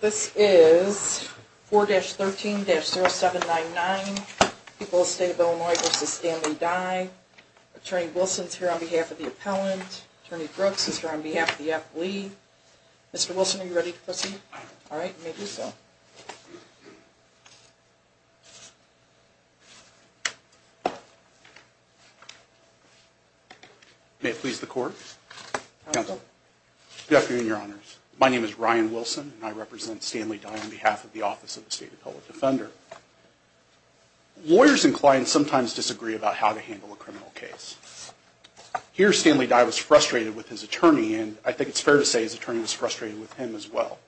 This is 4-13-0799. People of the State of Illinois v. Stanley Dye. Attorney Wilson is here on behalf of the appellant. Attorney Brooks is here on behalf of the appellee. Mr. Wilson, are you ready to proceed? Alright, you may do so. May it please the Court. Counsel. Good afternoon, Your Honors. My name is Ryan Wilson, and I represent Stanley Dye on behalf of the Office of the State Appellate Defender. Lawyers and clients sometimes disagree about how to handle a criminal case. Here, Stanley Dye was frustrated with his attorney, and I think it's fair to say his attorney was frustrated with him as well.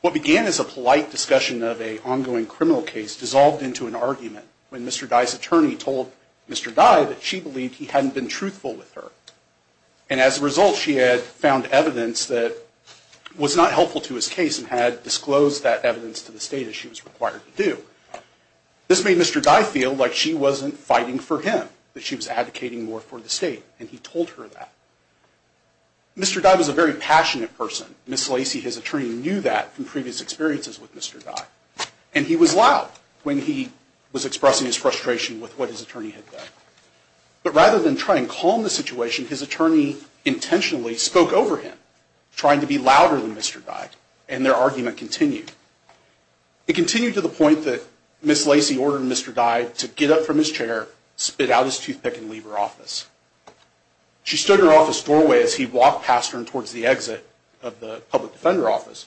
What began as a polite discussion of an ongoing criminal case dissolved into an argument when Mr. Dye's attorney told Mr. Dye that she believed he hadn't been truthful with her. And as a result, she had found evidence that was not helpful to his case and had disclosed that evidence to the State as she was required to do. This made Mr. Dye feel like she wasn't fighting for him, that she was advocating more for the State. And he told her that. Mr. Dye was a very passionate person. Ms. Lacey, his attorney, knew that from previous experiences with Mr. Dye. And he was loud when he was expressing his frustration with what his attorney had done. But rather than try and calm the situation, his attorney intentionally spoke over him, trying to be louder than Mr. Dye, and their argument continued. It continued to the point that Ms. Lacey ordered Mr. Dye to get up from his chair, spit out his toothpick, and leave her office. She stood in her office doorway as he walked past her and towards the exit of the public defender office.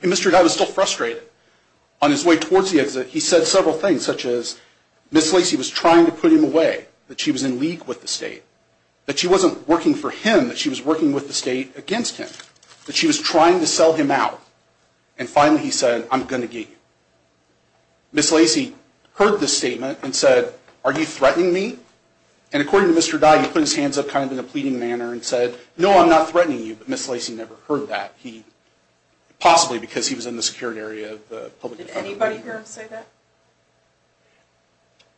And Mr. Dye was still frustrated. On his way towards the exit, he said several things, such as Ms. Lacey was trying to put him away, that she was in league with the State, that she wasn't working for him, that she was working with the State against him, that she was trying to sell him out. And finally he said, I'm going to get you. Ms. Lacey heard this statement and said, are you threatening me? And according to Mr. Dye, he put his hands up kind of in a pleading manner and said, no, I'm not threatening you, but Ms. Lacey never heard that. Possibly because he was in the secured area of the public defender. Did anybody hear him say that?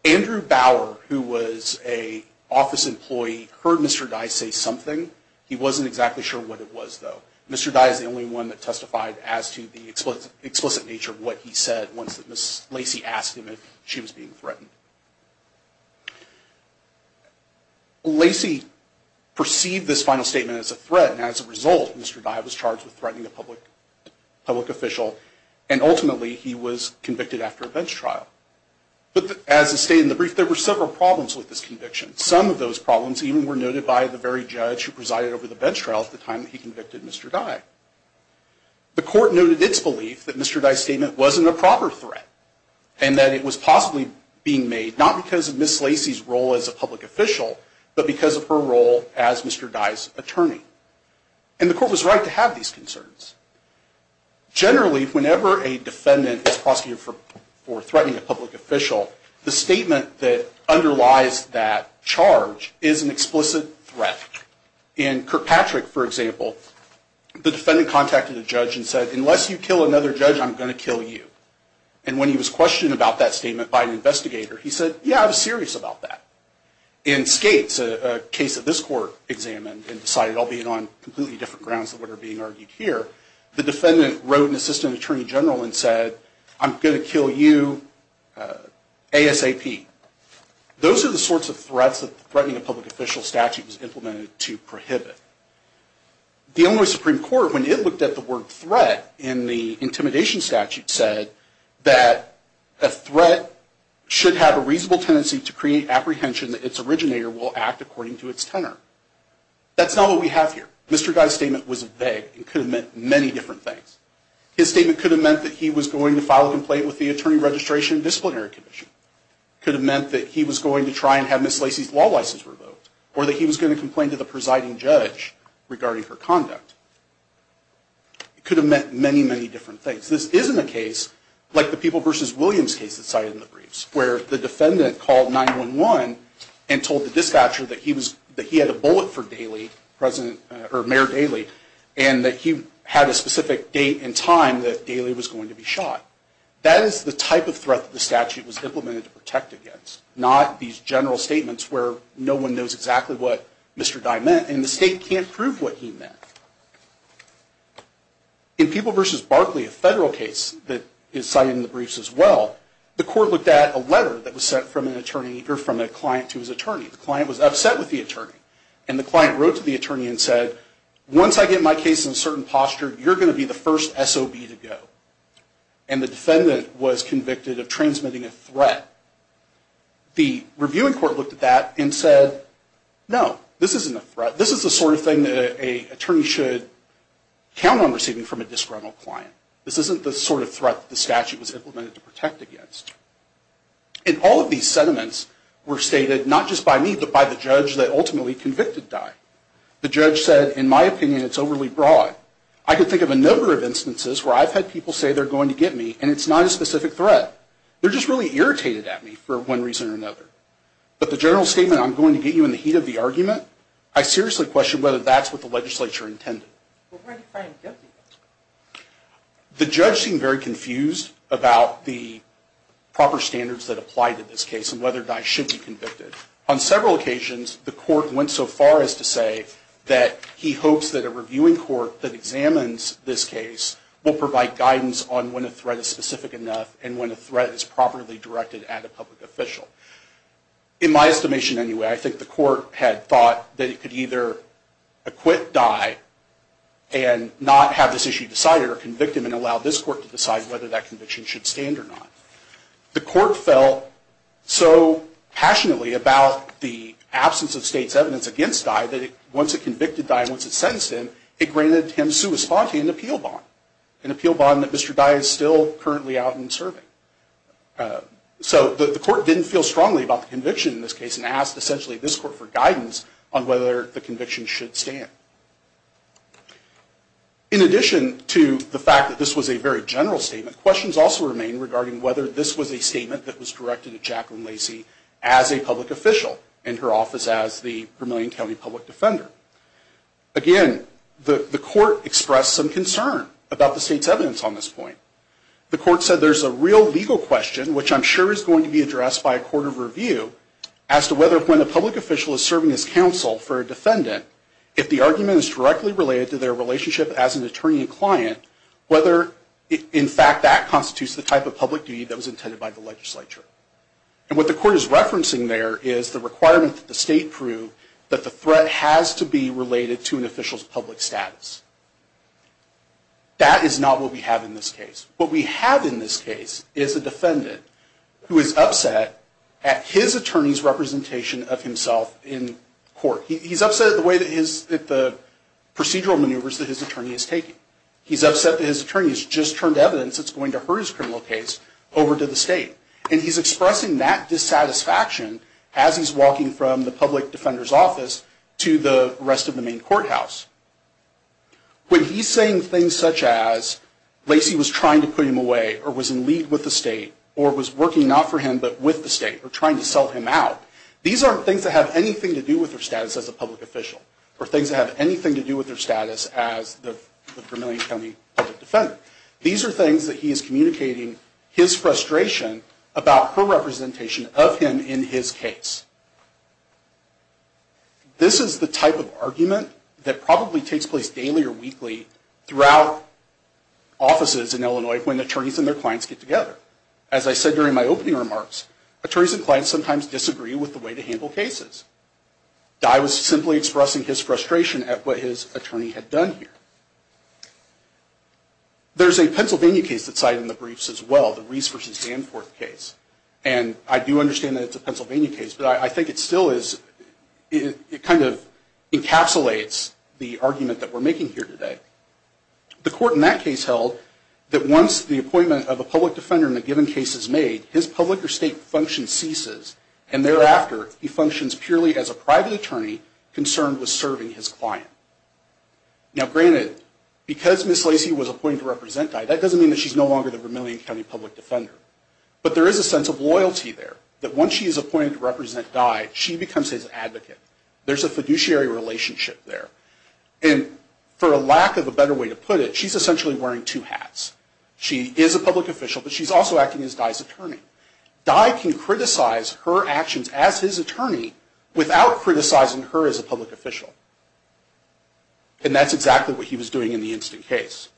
Andrew Bauer, who was an office employee, heard Mr. Dye say something. He wasn't exactly sure what it was, though. Mr. Dye is the only one that testified as to the explicit nature of what he said once Ms. Lacey asked him if she was being threatened. Lacey perceived this final statement as a threat, and as a result, Mr. Dye was charged with threatening a public official, and ultimately he was convicted after a bench trial. But as stated in the brief, there were several problems with this conviction. Some of those problems even were noted by the very judge who presided over the bench trial at the time that he convicted Mr. Dye. The court noted its belief that Mr. Dye's statement wasn't a proper threat, and that it was possibly being made not because of Ms. Lacey's role as a public official, but because of her role as Mr. Dye's attorney. And the court was right to have these concerns. Generally, whenever a defendant is prosecuted for threatening a public official, the statement that underlies that charge is an explicit threat. In Kirkpatrick, for example, the defendant contacted a judge and said, unless you kill another judge, I'm going to kill you. And when he was questioned about that statement by an investigator, he said, yeah, I was serious about that. In Skates, a case that this court examined and decided, albeit on completely different grounds than what are being argued here, the defendant wrote an assistant attorney general and said, I'm going to kill you ASAP. Those are the sorts of threats that threatening a public official statute was implemented to prohibit. The Illinois Supreme Court, when it looked at the word threat in the intimidation statute, said that a threat should have a reasonable tendency to create apprehension that its originator will act according to its tenor. That's not what we have here. Mr. Dye's statement was vague. It could have meant many different things. His statement could have meant that he was going to file a complaint with the Attorney Registration and Disciplinary Commission. It could have meant that he was going to try and have Ms. Lacey's law license revoked, or that he was going to complain to the presiding judge regarding her conduct. It could have meant many, many different things. This isn't a case like the People v. Williams case that's cited in the briefs, where the defendant called 911 and told the dispatcher that he had a bullet for Mayor Daley and that he had a specific date and time that Daley was going to be shot. That is the type of threat that the statute was implemented to protect against, not these general statements where no one knows exactly what Mr. Dye meant, and the state can't prove what he meant. In People v. Barkley, a federal case that is cited in the briefs as well, the court looked at a letter that was sent from a client to his attorney. The client was upset with the attorney, and the client wrote to the attorney and said, once I get my case in a certain posture, you're going to be the first SOB to go. And the defendant was convicted of transmitting a threat. The reviewing court looked at that and said, no, this isn't a threat. This is the sort of thing that an attorney should count on receiving from a disgruntled client. This isn't the sort of threat that the statute was implemented to protect against. And all of these sentiments were stated not just by me, but by the judge that ultimately convicted Dye. The judge said, in my opinion, it's overly broad. I can think of a number of instances where I've had people say they're going to get me, and it's not a specific threat. They're just really irritated at me for one reason or another. But the general statement, I'm going to get you in the heat of the argument, I seriously question whether that's what the legislature intended. The judge seemed very confused about the proper standards that apply to this case and whether Dye should be convicted. On several occasions, the court went so far as to say that he hopes that a reviewing court that examines this case will provide guidance on when a threat is specific enough and when a threat is properly directed at a public official. In my estimation, anyway, I think the court had thought that it could either acquit Dye and not have this issue decided or convict him and allow this court to decide whether that conviction should stand or not. The court felt so passionately about the absence of state's evidence against Dye that once it convicted Dye and once it sentenced him, it granted him sui sponte, an appeal bond. An appeal bond that Mr. Dye is still currently out and serving. So the court didn't feel strongly about the conviction in this case and asked essentially this court for guidance on whether the conviction should stand. In addition to the fact that this was a very general statement, questions also remain regarding whether this was a statement that was directed at Jacqueline Lacy as a public official in her office as the Vermilion County public defender. Again, the court expressed some concern about the state's evidence on this point. The court said there's a real legal question, which I'm sure is going to be addressed by a court of review, as to whether when a public official is serving as counsel for a defendant, if the argument is directly related to their relationship as an attorney and client, whether in fact that constitutes the type of public duty that was intended by the legislature. And what the court is referencing there is the requirement that the state prove that the threat has to be related to an official's public status. That is not what we have in this case. What we have in this case is a defendant who is upset at his attorney's representation of himself in court. He's upset at the procedural maneuvers that his attorney is taking. He's upset that his attorney has just turned evidence that's going to hurt his criminal case over to the state. And he's expressing that dissatisfaction as he's walking from the public defender's office to the rest of the main courthouse. When he's saying things such as Lacey was trying to put him away or was in league with the state or was working not for him but with the state or trying to sell him out, these aren't things that have anything to do with their status as a public official or things that have anything to do with their status as the Vermillion County public defender. These are things that he is communicating his frustration about her representation of him in his case. This is the type of argument that probably takes place daily or weekly throughout offices in Illinois when attorneys and their clients get together. As I said during my opening remarks, attorneys and clients sometimes disagree with the way to handle cases. Dye was simply expressing his frustration at what his attorney had done here. There's a Pennsylvania case that's cited in the briefs as well, the Reese v. Danforth case. And I do understand that it's a Pennsylvania case, but I think it still is, it kind of encapsulates the argument that we're making here today. The court in that case held that once the appointment of a public defender in a given case is made, his public or state function ceases and thereafter he functions purely as a private attorney concerned with serving his client. Now granted, because Ms. Lacey was appointed to represent Dye, that doesn't mean that she's no longer the Vermillion County public defender. But there is a sense of loyalty there, that once she is appointed to represent Dye, she becomes his advocate. There's a fiduciary relationship there. And for a lack of a better way to put it, she's essentially wearing two hats. She is a public official, but she's also acting as Dye's attorney. Dye can criticize her actions as his attorney without criticizing her as a public official. And that's exactly what he was doing in the instant case.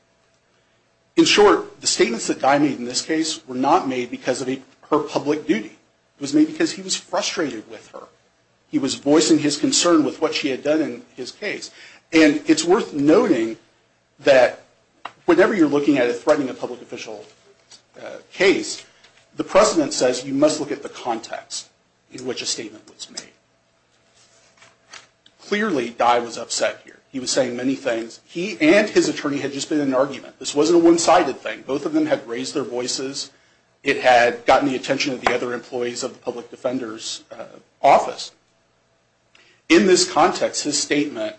In short, the statements that Dye made in this case were not made because of her public duty. It was made because he was frustrated with her. He was voicing his concern with what she had done in his case. And it's worth noting that whenever you're looking at threatening a public official case, the precedent says you must look at the context in which a statement was made. Clearly, Dye was upset here. He was saying many things. He and his attorney had just been in an argument. This wasn't a one-sided thing. Both of them had raised their voices. It had gotten the attention of the other employees of the public defender's office. In this context, his statement,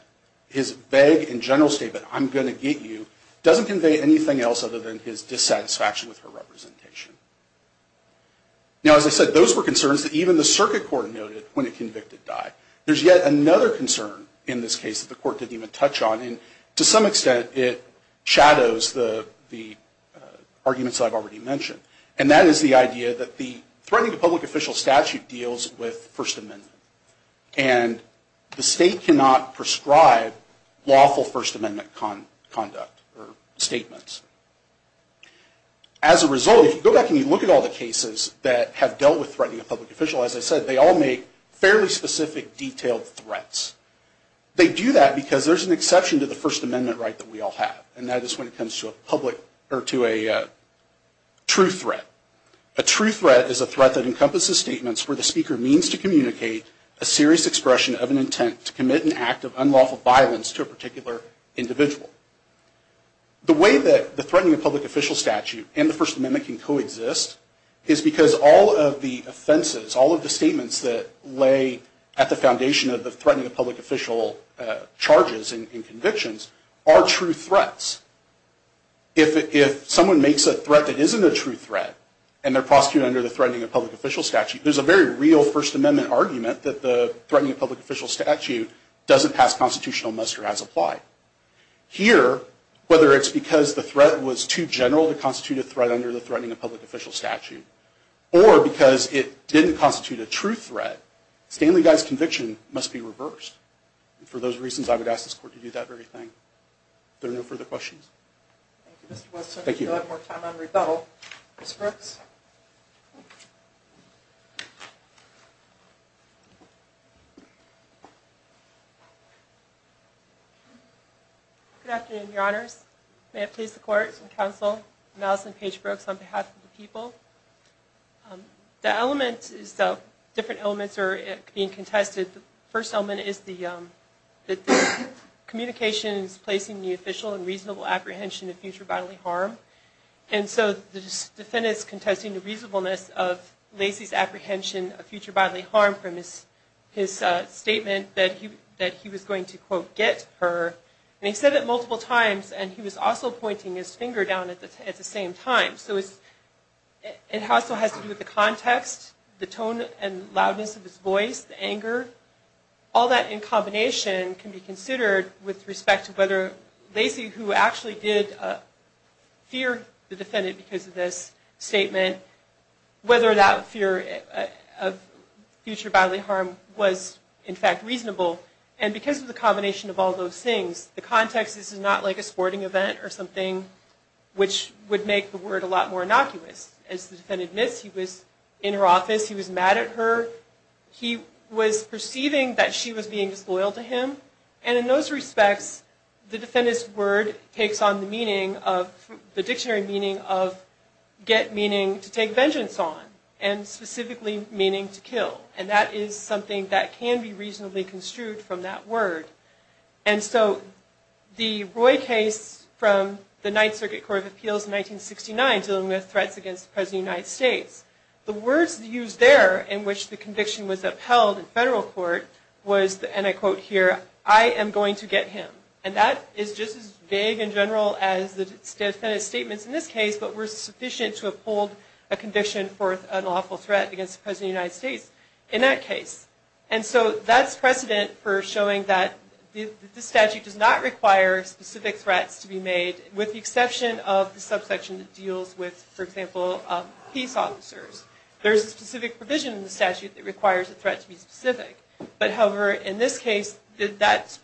his vague and general statement, I'm going to get you, doesn't convey anything else other than his dissatisfaction with her representation. Now, as I said, those were concerns that even the circuit court noted when a convicted Dye. There's yet another concern in this case that the court didn't even touch on. And to some extent, it shadows the arguments I've already mentioned. And that is the idea that the threatening a public official statute deals with First Amendment. And the state cannot prescribe lawful First Amendment conduct or statements. As a result, if you go back and you look at all the cases that have dealt with threatening a public official, as I said, they all make fairly specific, detailed threats. They do that because there's an exception to the First Amendment right that we all have. And that is when it comes to a public or to a true threat. A true threat is a threat that encompasses statements where the speaker means to communicate a serious expression of an intent to commit an act of unlawful violence to a particular individual. The way that the threatening a public official statute and the First Amendment can coexist is because all of the offenses, all of the statements that lay at the foundation of the threatening a public official charges and convictions are true threats. If someone makes a threat that isn't a true threat, and they're prosecuted under the threatening a public official statute, there's a very real First Amendment argument that the threatening a public official statute doesn't pass constitutional muster as applied. Here, whether it's because the threat was too general to constitute a threat under the threatening a public official statute or because it didn't constitute a true threat, Stanley Guy's conviction must be reversed. And for those reasons, I would ask this court to do that very thing. Are there no further questions? Thank you, Mr. Wilson. Thank you. If you don't have more time, I'm going to rebuttal. Ms. Brooks? Good afternoon, Your Honors. May it please the Court and the Council, I'm Allison Paige Brooks on behalf of the people. The different elements are being contested. The first element is that the communication is placing the official in reasonable apprehension of future bodily harm. And so the defendant is contesting the reasonableness of Lacey's apprehension of future bodily harm from his statement that he was going to, quote, get her. And he said it multiple times, and he was also pointing his finger down at the same time. So it also has to do with the context, the tone and loudness of his voice, the anger. All that in combination can be considered with respect to whether Lacey, who actually did fear the defendant because of this statement, whether that fear of future bodily harm was, in fact, reasonable. And because of the combination of all those things, the context is not like a sporting event or something which would make the word a lot more innocuous. As the defendant admits, he was in her office, he was mad at her, he was perceiving that she was being disloyal to him. And in those respects, the defendant's word takes on the dictionary meaning of get meaning to take vengeance on and specifically meaning to kill. And that is something that can be reasonably construed from that word. And so the Roy case from the Ninth Circuit Court of Appeals in 1969 dealing with threats against the President of the United States, the words used there in which the conviction was upheld in federal court was, and I quote here, I am going to get him. And that is just as vague and general as the defendant's statements in this case, but were sufficient to uphold a conviction for an awful threat against the President of the United States in that case. And so that is precedent for showing that the statute does not require specific threats to be made with the exception of the subsection that deals with, for example, peace officers. There is a specific provision in the statute that requires a threat to be specific. But however, in this case, that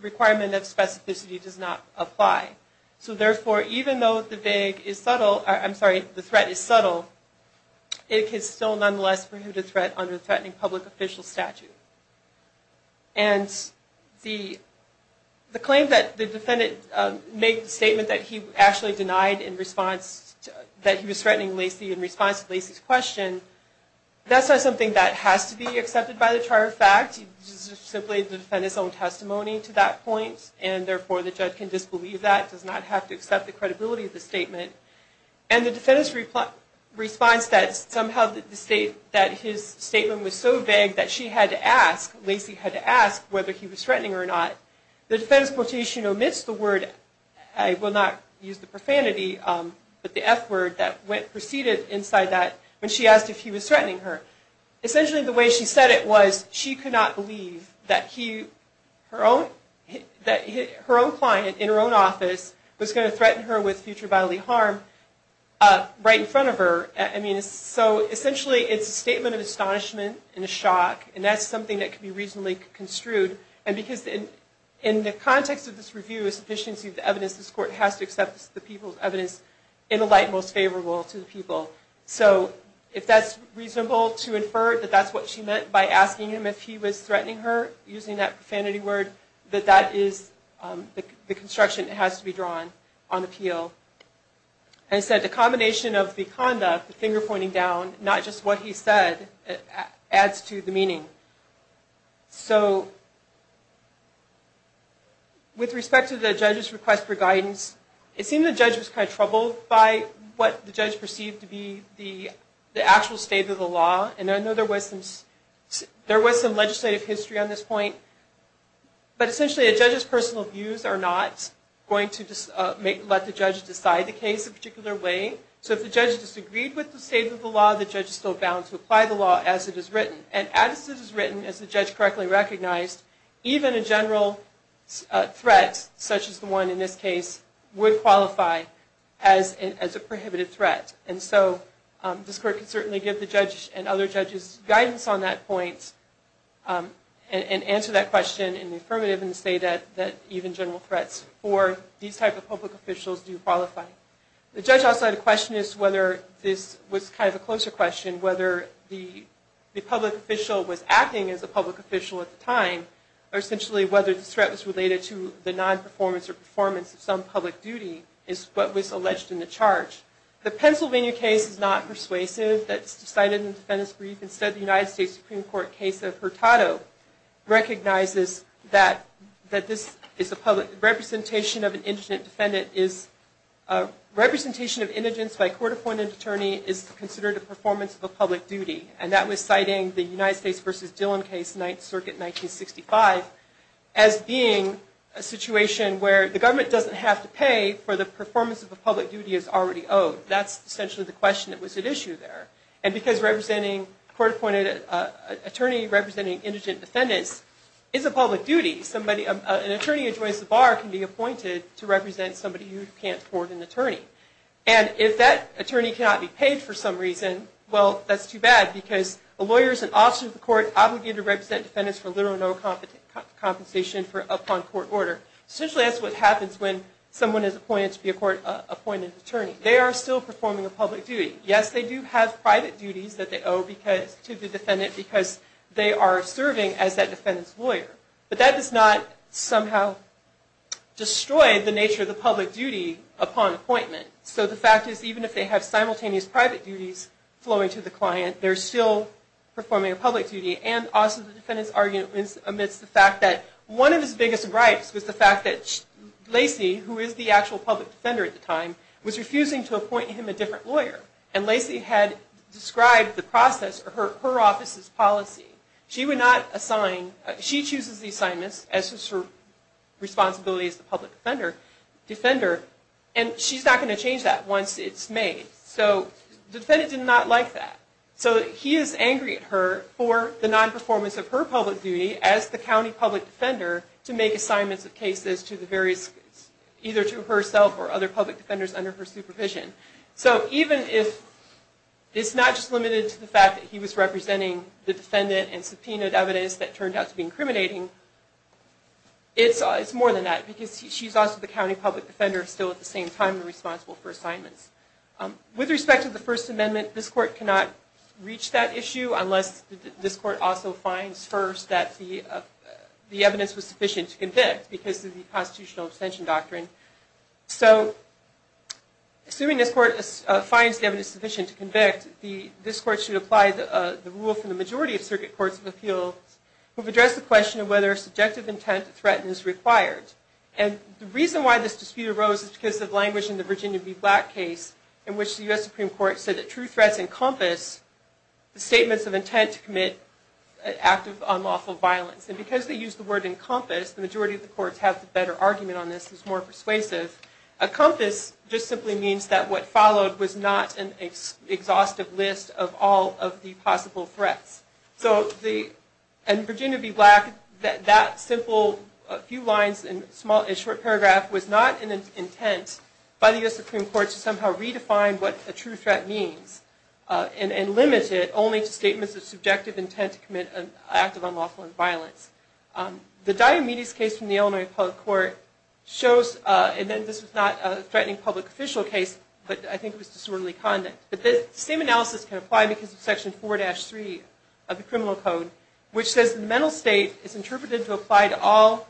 requirement of specificity does not apply. So therefore, even though the threat is subtle, it is still nonetheless a prohibited threat under the Threatening Public Official Statute. And the claim that the defendant made the statement that he actually denied in response, that he was threatening Lacy in response to Lacy's question, that is not something that has to be accepted by the Charter of Facts. He simply defended his own testimony to that point, and therefore the judge can disbelieve that, does not have to accept the credibility of the statement. And the defendant's response that somehow his statement was so vague that she had to ask, Lacy had to ask, whether he was threatening her or not, the defendant's quotation omits the word, I will not use the profanity, but the F word that proceeded inside that when she asked if he was threatening her. Essentially the way she said it was, she could not believe that her own client in her own office was going to threaten her with future bodily harm right in front of her. So essentially it's a statement of astonishment and a shock, and that's something that can be reasonably construed. And because in the context of this review, a sufficiency of the evidence, this court has to accept the people's evidence in a light most favorable to the people. So if that's reasonable to infer that that's what she meant by asking him if he was threatening her, using that profanity word, that that is the construction that has to be drawn on appeal. As I said, the combination of the conduct, the finger pointing down, not just what he said, adds to the meaning. So with respect to the judge's request for guidance, it seemed the judge was kind of troubled by what the judge perceived to be the actual state of the law. And I know there was some legislative history on this point, but essentially a judge's personal views are not going to let the judge decide the case a particular way. So if the judge disagreed with the state of the law, the judge is still bound to apply the law as it is written. And as it is written, as the judge correctly recognized, even a general threat such as the one in this case would qualify as a prohibited threat. And so this court can certainly give the judge and other judges guidance on that point and answer that question in the affirmative and say that even general threats for these type of public officials do qualify. The judge also had a question as to whether this was kind of a closer question, whether the public official was acting as a public official at the time, or essentially whether this threat was related to the non-performance or performance of some public duty, is what was alleged in the charge. The Pennsylvania case is not persuasive. That's decided in the defendant's brief. Instead, the United States Supreme Court case of Hurtado recognizes that this is a public... representation of an indigent defendant is... representation of indigents by a court-appointed attorney is considered a performance of a public duty. And that was citing the United States v. Dillon case, 9th Circuit, 1965, as being a situation where the government doesn't have to pay for the performance of a public duty as already owed. That's essentially the question that was at issue there. And because representing a court-appointed attorney representing indigent defendants is a public duty, an attorney who joins the bar can be appointed to represent somebody who can't afford an attorney. And if that attorney cannot be paid for some reason, well, that's too bad, because a lawyer is an officer of the court obligated to represent defendants for little or no compensation upon court order. Essentially, that's what happens when someone is appointed to be a court-appointed attorney. They are still performing a public duty. Yes, they do have private duties that they owe to the defendant because they are serving as that defendant's lawyer. But that does not somehow destroy the nature of the public duty upon appointment. So the fact is, even if they have simultaneous private duties flowing to the client, they're still performing a public duty. And also the defendant's arguments amidst the fact that one of his biggest gripes was the fact that Lacey, who is the actual public defender at the time, was refusing to appoint him a different lawyer. And Lacey had described the process, or her office's policy. She would not assign, she chooses the assignments as her responsibility as the public defender. And she's not going to change that once it's made. So the defendant did not like that. So he is angry at her for the non-performance of her public duty as the county public defender to make assignments of cases to the various, either to herself or other public defenders under her supervision. So even if it's not just limited to the fact that he was representing the defendant and subpoenaed evidence that turned out to be incriminating, it's more than that. Because she's also the county public defender, still at the same time responsible for assignments. With respect to the First Amendment, this court cannot reach that issue unless this court also finds first that the evidence was sufficient to convict because of the constitutional abstention doctrine. So assuming this court finds the evidence sufficient to convict, this court should apply the rule from the majority of circuit courts of appeals who have addressed the question of whether subjective intent to threaten is required. And the reason why this dispute arose is because of language in the Virginia v. Black case in which the U.S. Supreme Court said that true threats encompass the statements of intent to commit an act of unlawful violence. And because they used the word encompass, the majority of the courts have the better argument on this. It's more persuasive. A compass just simply means that what followed was not an exhaustive list of all of the possible threats. In Virginia v. Black, that simple few lines and short paragraph was not an intent by the U.S. Supreme Court to somehow redefine what a true threat means and limit it only to statements of subjective intent to commit an act of unlawful violence. The Diomedes case from the Illinois Public Court shows, and this was not a threatening public official case, but I think it was disorderly conduct, that the same analysis can apply because of Section 4-3 of the Criminal Code, which says the mental state is interpreted to apply to all,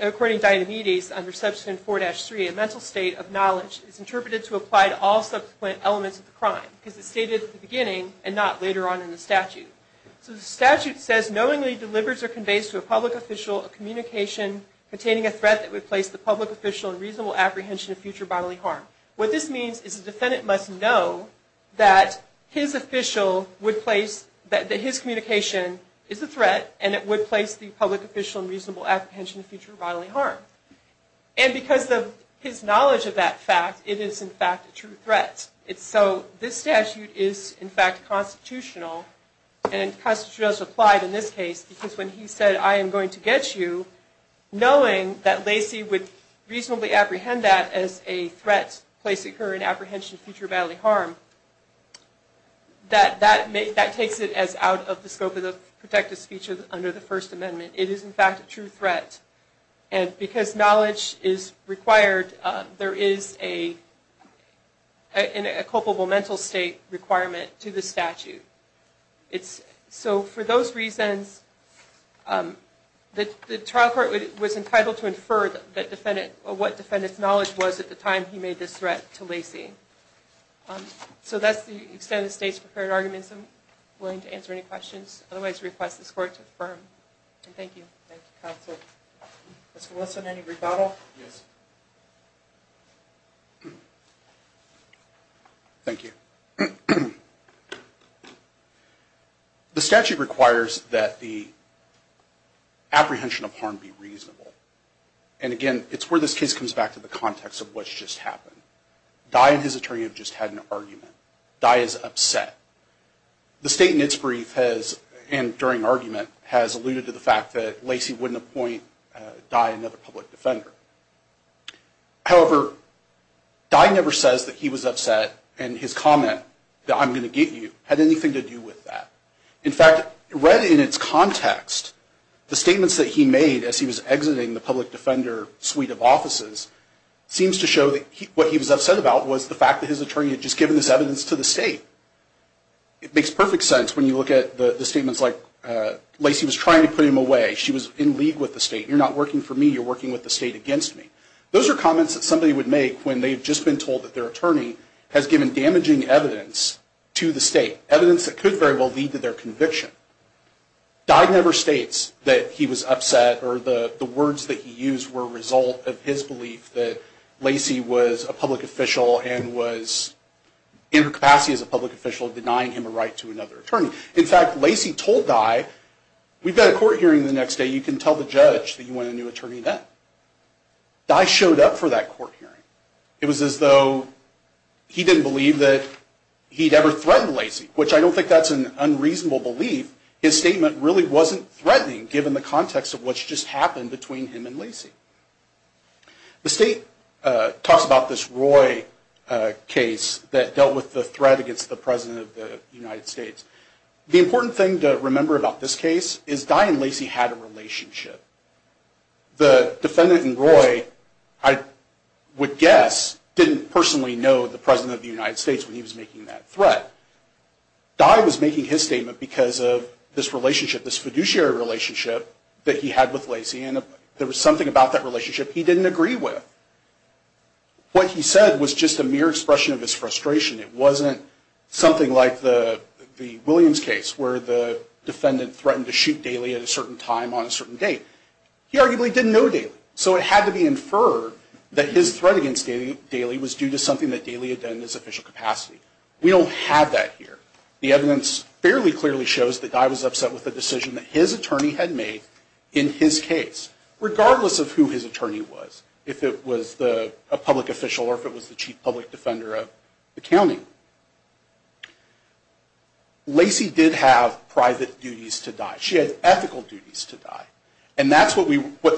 according to Diomedes, under Section 4-3, a mental state of knowledge is interpreted to apply to all subsequent elements of the crime, because it's stated at the beginning and not later on in the statute. So the statute says, knowingly delivers or conveys to a public official a communication containing a threat that would place the public official in reasonable apprehension of future bodily harm. What this means is the defendant must know that his communication is a threat and it would place the public official in reasonable apprehension of future bodily harm. And because of his knowledge of that fact, it is in fact a true threat. So this statute is in fact constitutional, and constitutional is applied in this case, because when he said, I am going to get you, knowing that Lacey would reasonably apprehend that as a threat placed to her in apprehension of future bodily harm, that takes it as out of the scope of the protective speech under the First Amendment. It is in fact a true threat. And because knowledge is required, there is a culpable mental state requirement to the statute. So for those reasons, the trial court was entitled to infer what defendant's knowledge was at the time he made this threat to Lacey. So that's the extent of the state's prepared arguments. I'm willing to answer any questions. Otherwise, I request this Court to affirm. Thank you. Thank you, counsel. Mr. Wilson, any rebuttal? Yes. Thank you. The statute requires that the apprehension of harm be reasonable. And again, it's where this case comes back to the context of what's just happened. Dye and his attorney have just had an argument. Dye is upset. The state in its brief has, and during argument, has alluded to the fact that Lacey wouldn't appoint Dye another public defender. However, Dye never says that he was upset, and his comment that I'm going to get you had anything to do with that. In fact, read in its context, the statements that he made as he was exiting the public defender suite of offices seems to show that what he was upset about was the fact that his attorney had just given this evidence to the state. It makes perfect sense when you look at the statements like Lacey was trying to put him away. She was in league with the state. You're not working for me. You're working with the state against me. Those are comments that somebody would make when they've just been told that their attorney has given damaging evidence to the state, evidence that could very well lead to their conviction. Dye never states that he was upset or the words that he used were a result of his belief that Lacey was a public official and was in her capacity as a public official denying him a right to another attorney. In fact, Lacey told Dye, we've got a court hearing the next day. You can tell the judge that you want a new attorney then. Dye showed up for that court hearing. It was as though he didn't believe that he'd ever threatened Lacey, which I don't think that's an unreasonable belief. His statement really wasn't threatening given the context of what's just happened between him and Lacey. The state talks about this Roy case that dealt with the threat against the president of the United States. The important thing to remember about this case is Dye and Lacey had a relationship. The defendant and Roy, I would guess, didn't personally know the president of the United States when he was making that threat. Dye was making his statement because of this relationship, this fiduciary relationship that he had with Lacey, and there was something about that relationship he didn't agree with. What he said was just a mere expression of his frustration. It wasn't something like the Williams case where the defendant threatened to shoot Daly at a certain time on a certain date. He arguably didn't know Daly, so it had to be inferred that his threat against Daly was due to something that Daly had done in his official capacity. We don't have that here. The evidence fairly clearly shows that Dye was upset with the decision that his attorney had made in his case. Regardless of who his attorney was, if it was a public official or if it was the chief public defender of the county, Lacey did have private duties to Dye. She had ethical duties to Dye, and that's what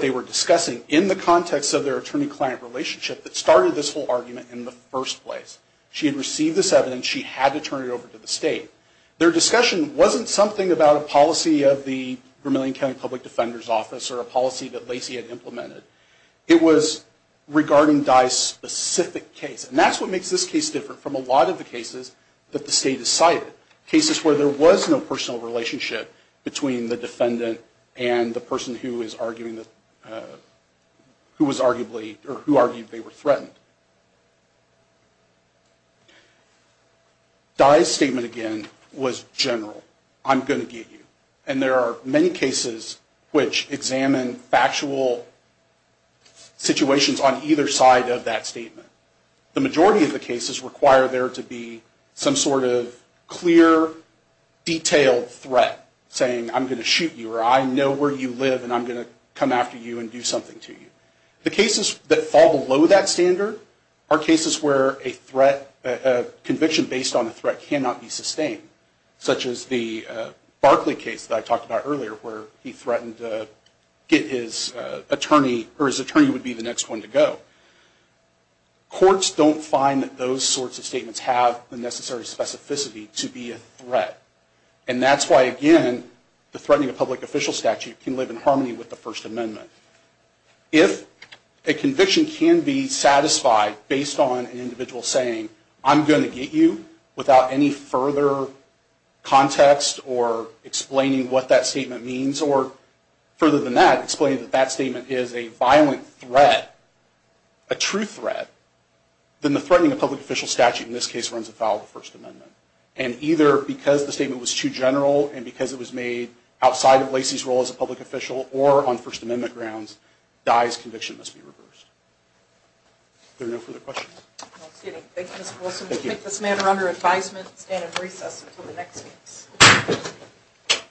they were discussing in the context of their attorney-client relationship that started this whole argument in the first place. She had received this evidence. She had to turn it over to the state. Their discussion wasn't something about a policy of the Vermilion County Public Defender's Office or a policy that Lacey had implemented. It was regarding Dye's specific case, and that's what makes this case different from a lot of the cases that the state has cited, cases where there was no personal relationship between the defendant and the person who argued they were threatened. Dye's statement, again, was general. I'm going to get you. And there are many cases which examine factual situations on either side of that statement. The majority of the cases require there to be some sort of clear, detailed threat saying, I'm going to shoot you, or I know where you live, and I'm going to come after you and do something to you. The cases that fall below that standard are cases where a threat, a conviction based on a threat cannot be sustained, such as the Barkley case that I talked about earlier where he threatened to get his attorney, or his attorney would be the next one to go. Courts don't find that those sorts of statements have the necessary specificity to be a threat. And that's why, again, the threatening of public official statute can live in harmony with the First Amendment. If a conviction can be satisfied based on an individual saying, I'm going to get you, without any further context or explaining what that statement means, or further than that, explaining that that statement is a violent threat, a true threat, then the threatening of public official statute in this case runs afoul of the First Amendment. And either because the statement was too general, and because it was made outside of Lacey's role as a public official, or on First Amendment grounds, Dye's conviction must be reversed. Are there no further questions? Thank you, Mr. Wilson. We take this matter under advisement and stand at recess until the next case.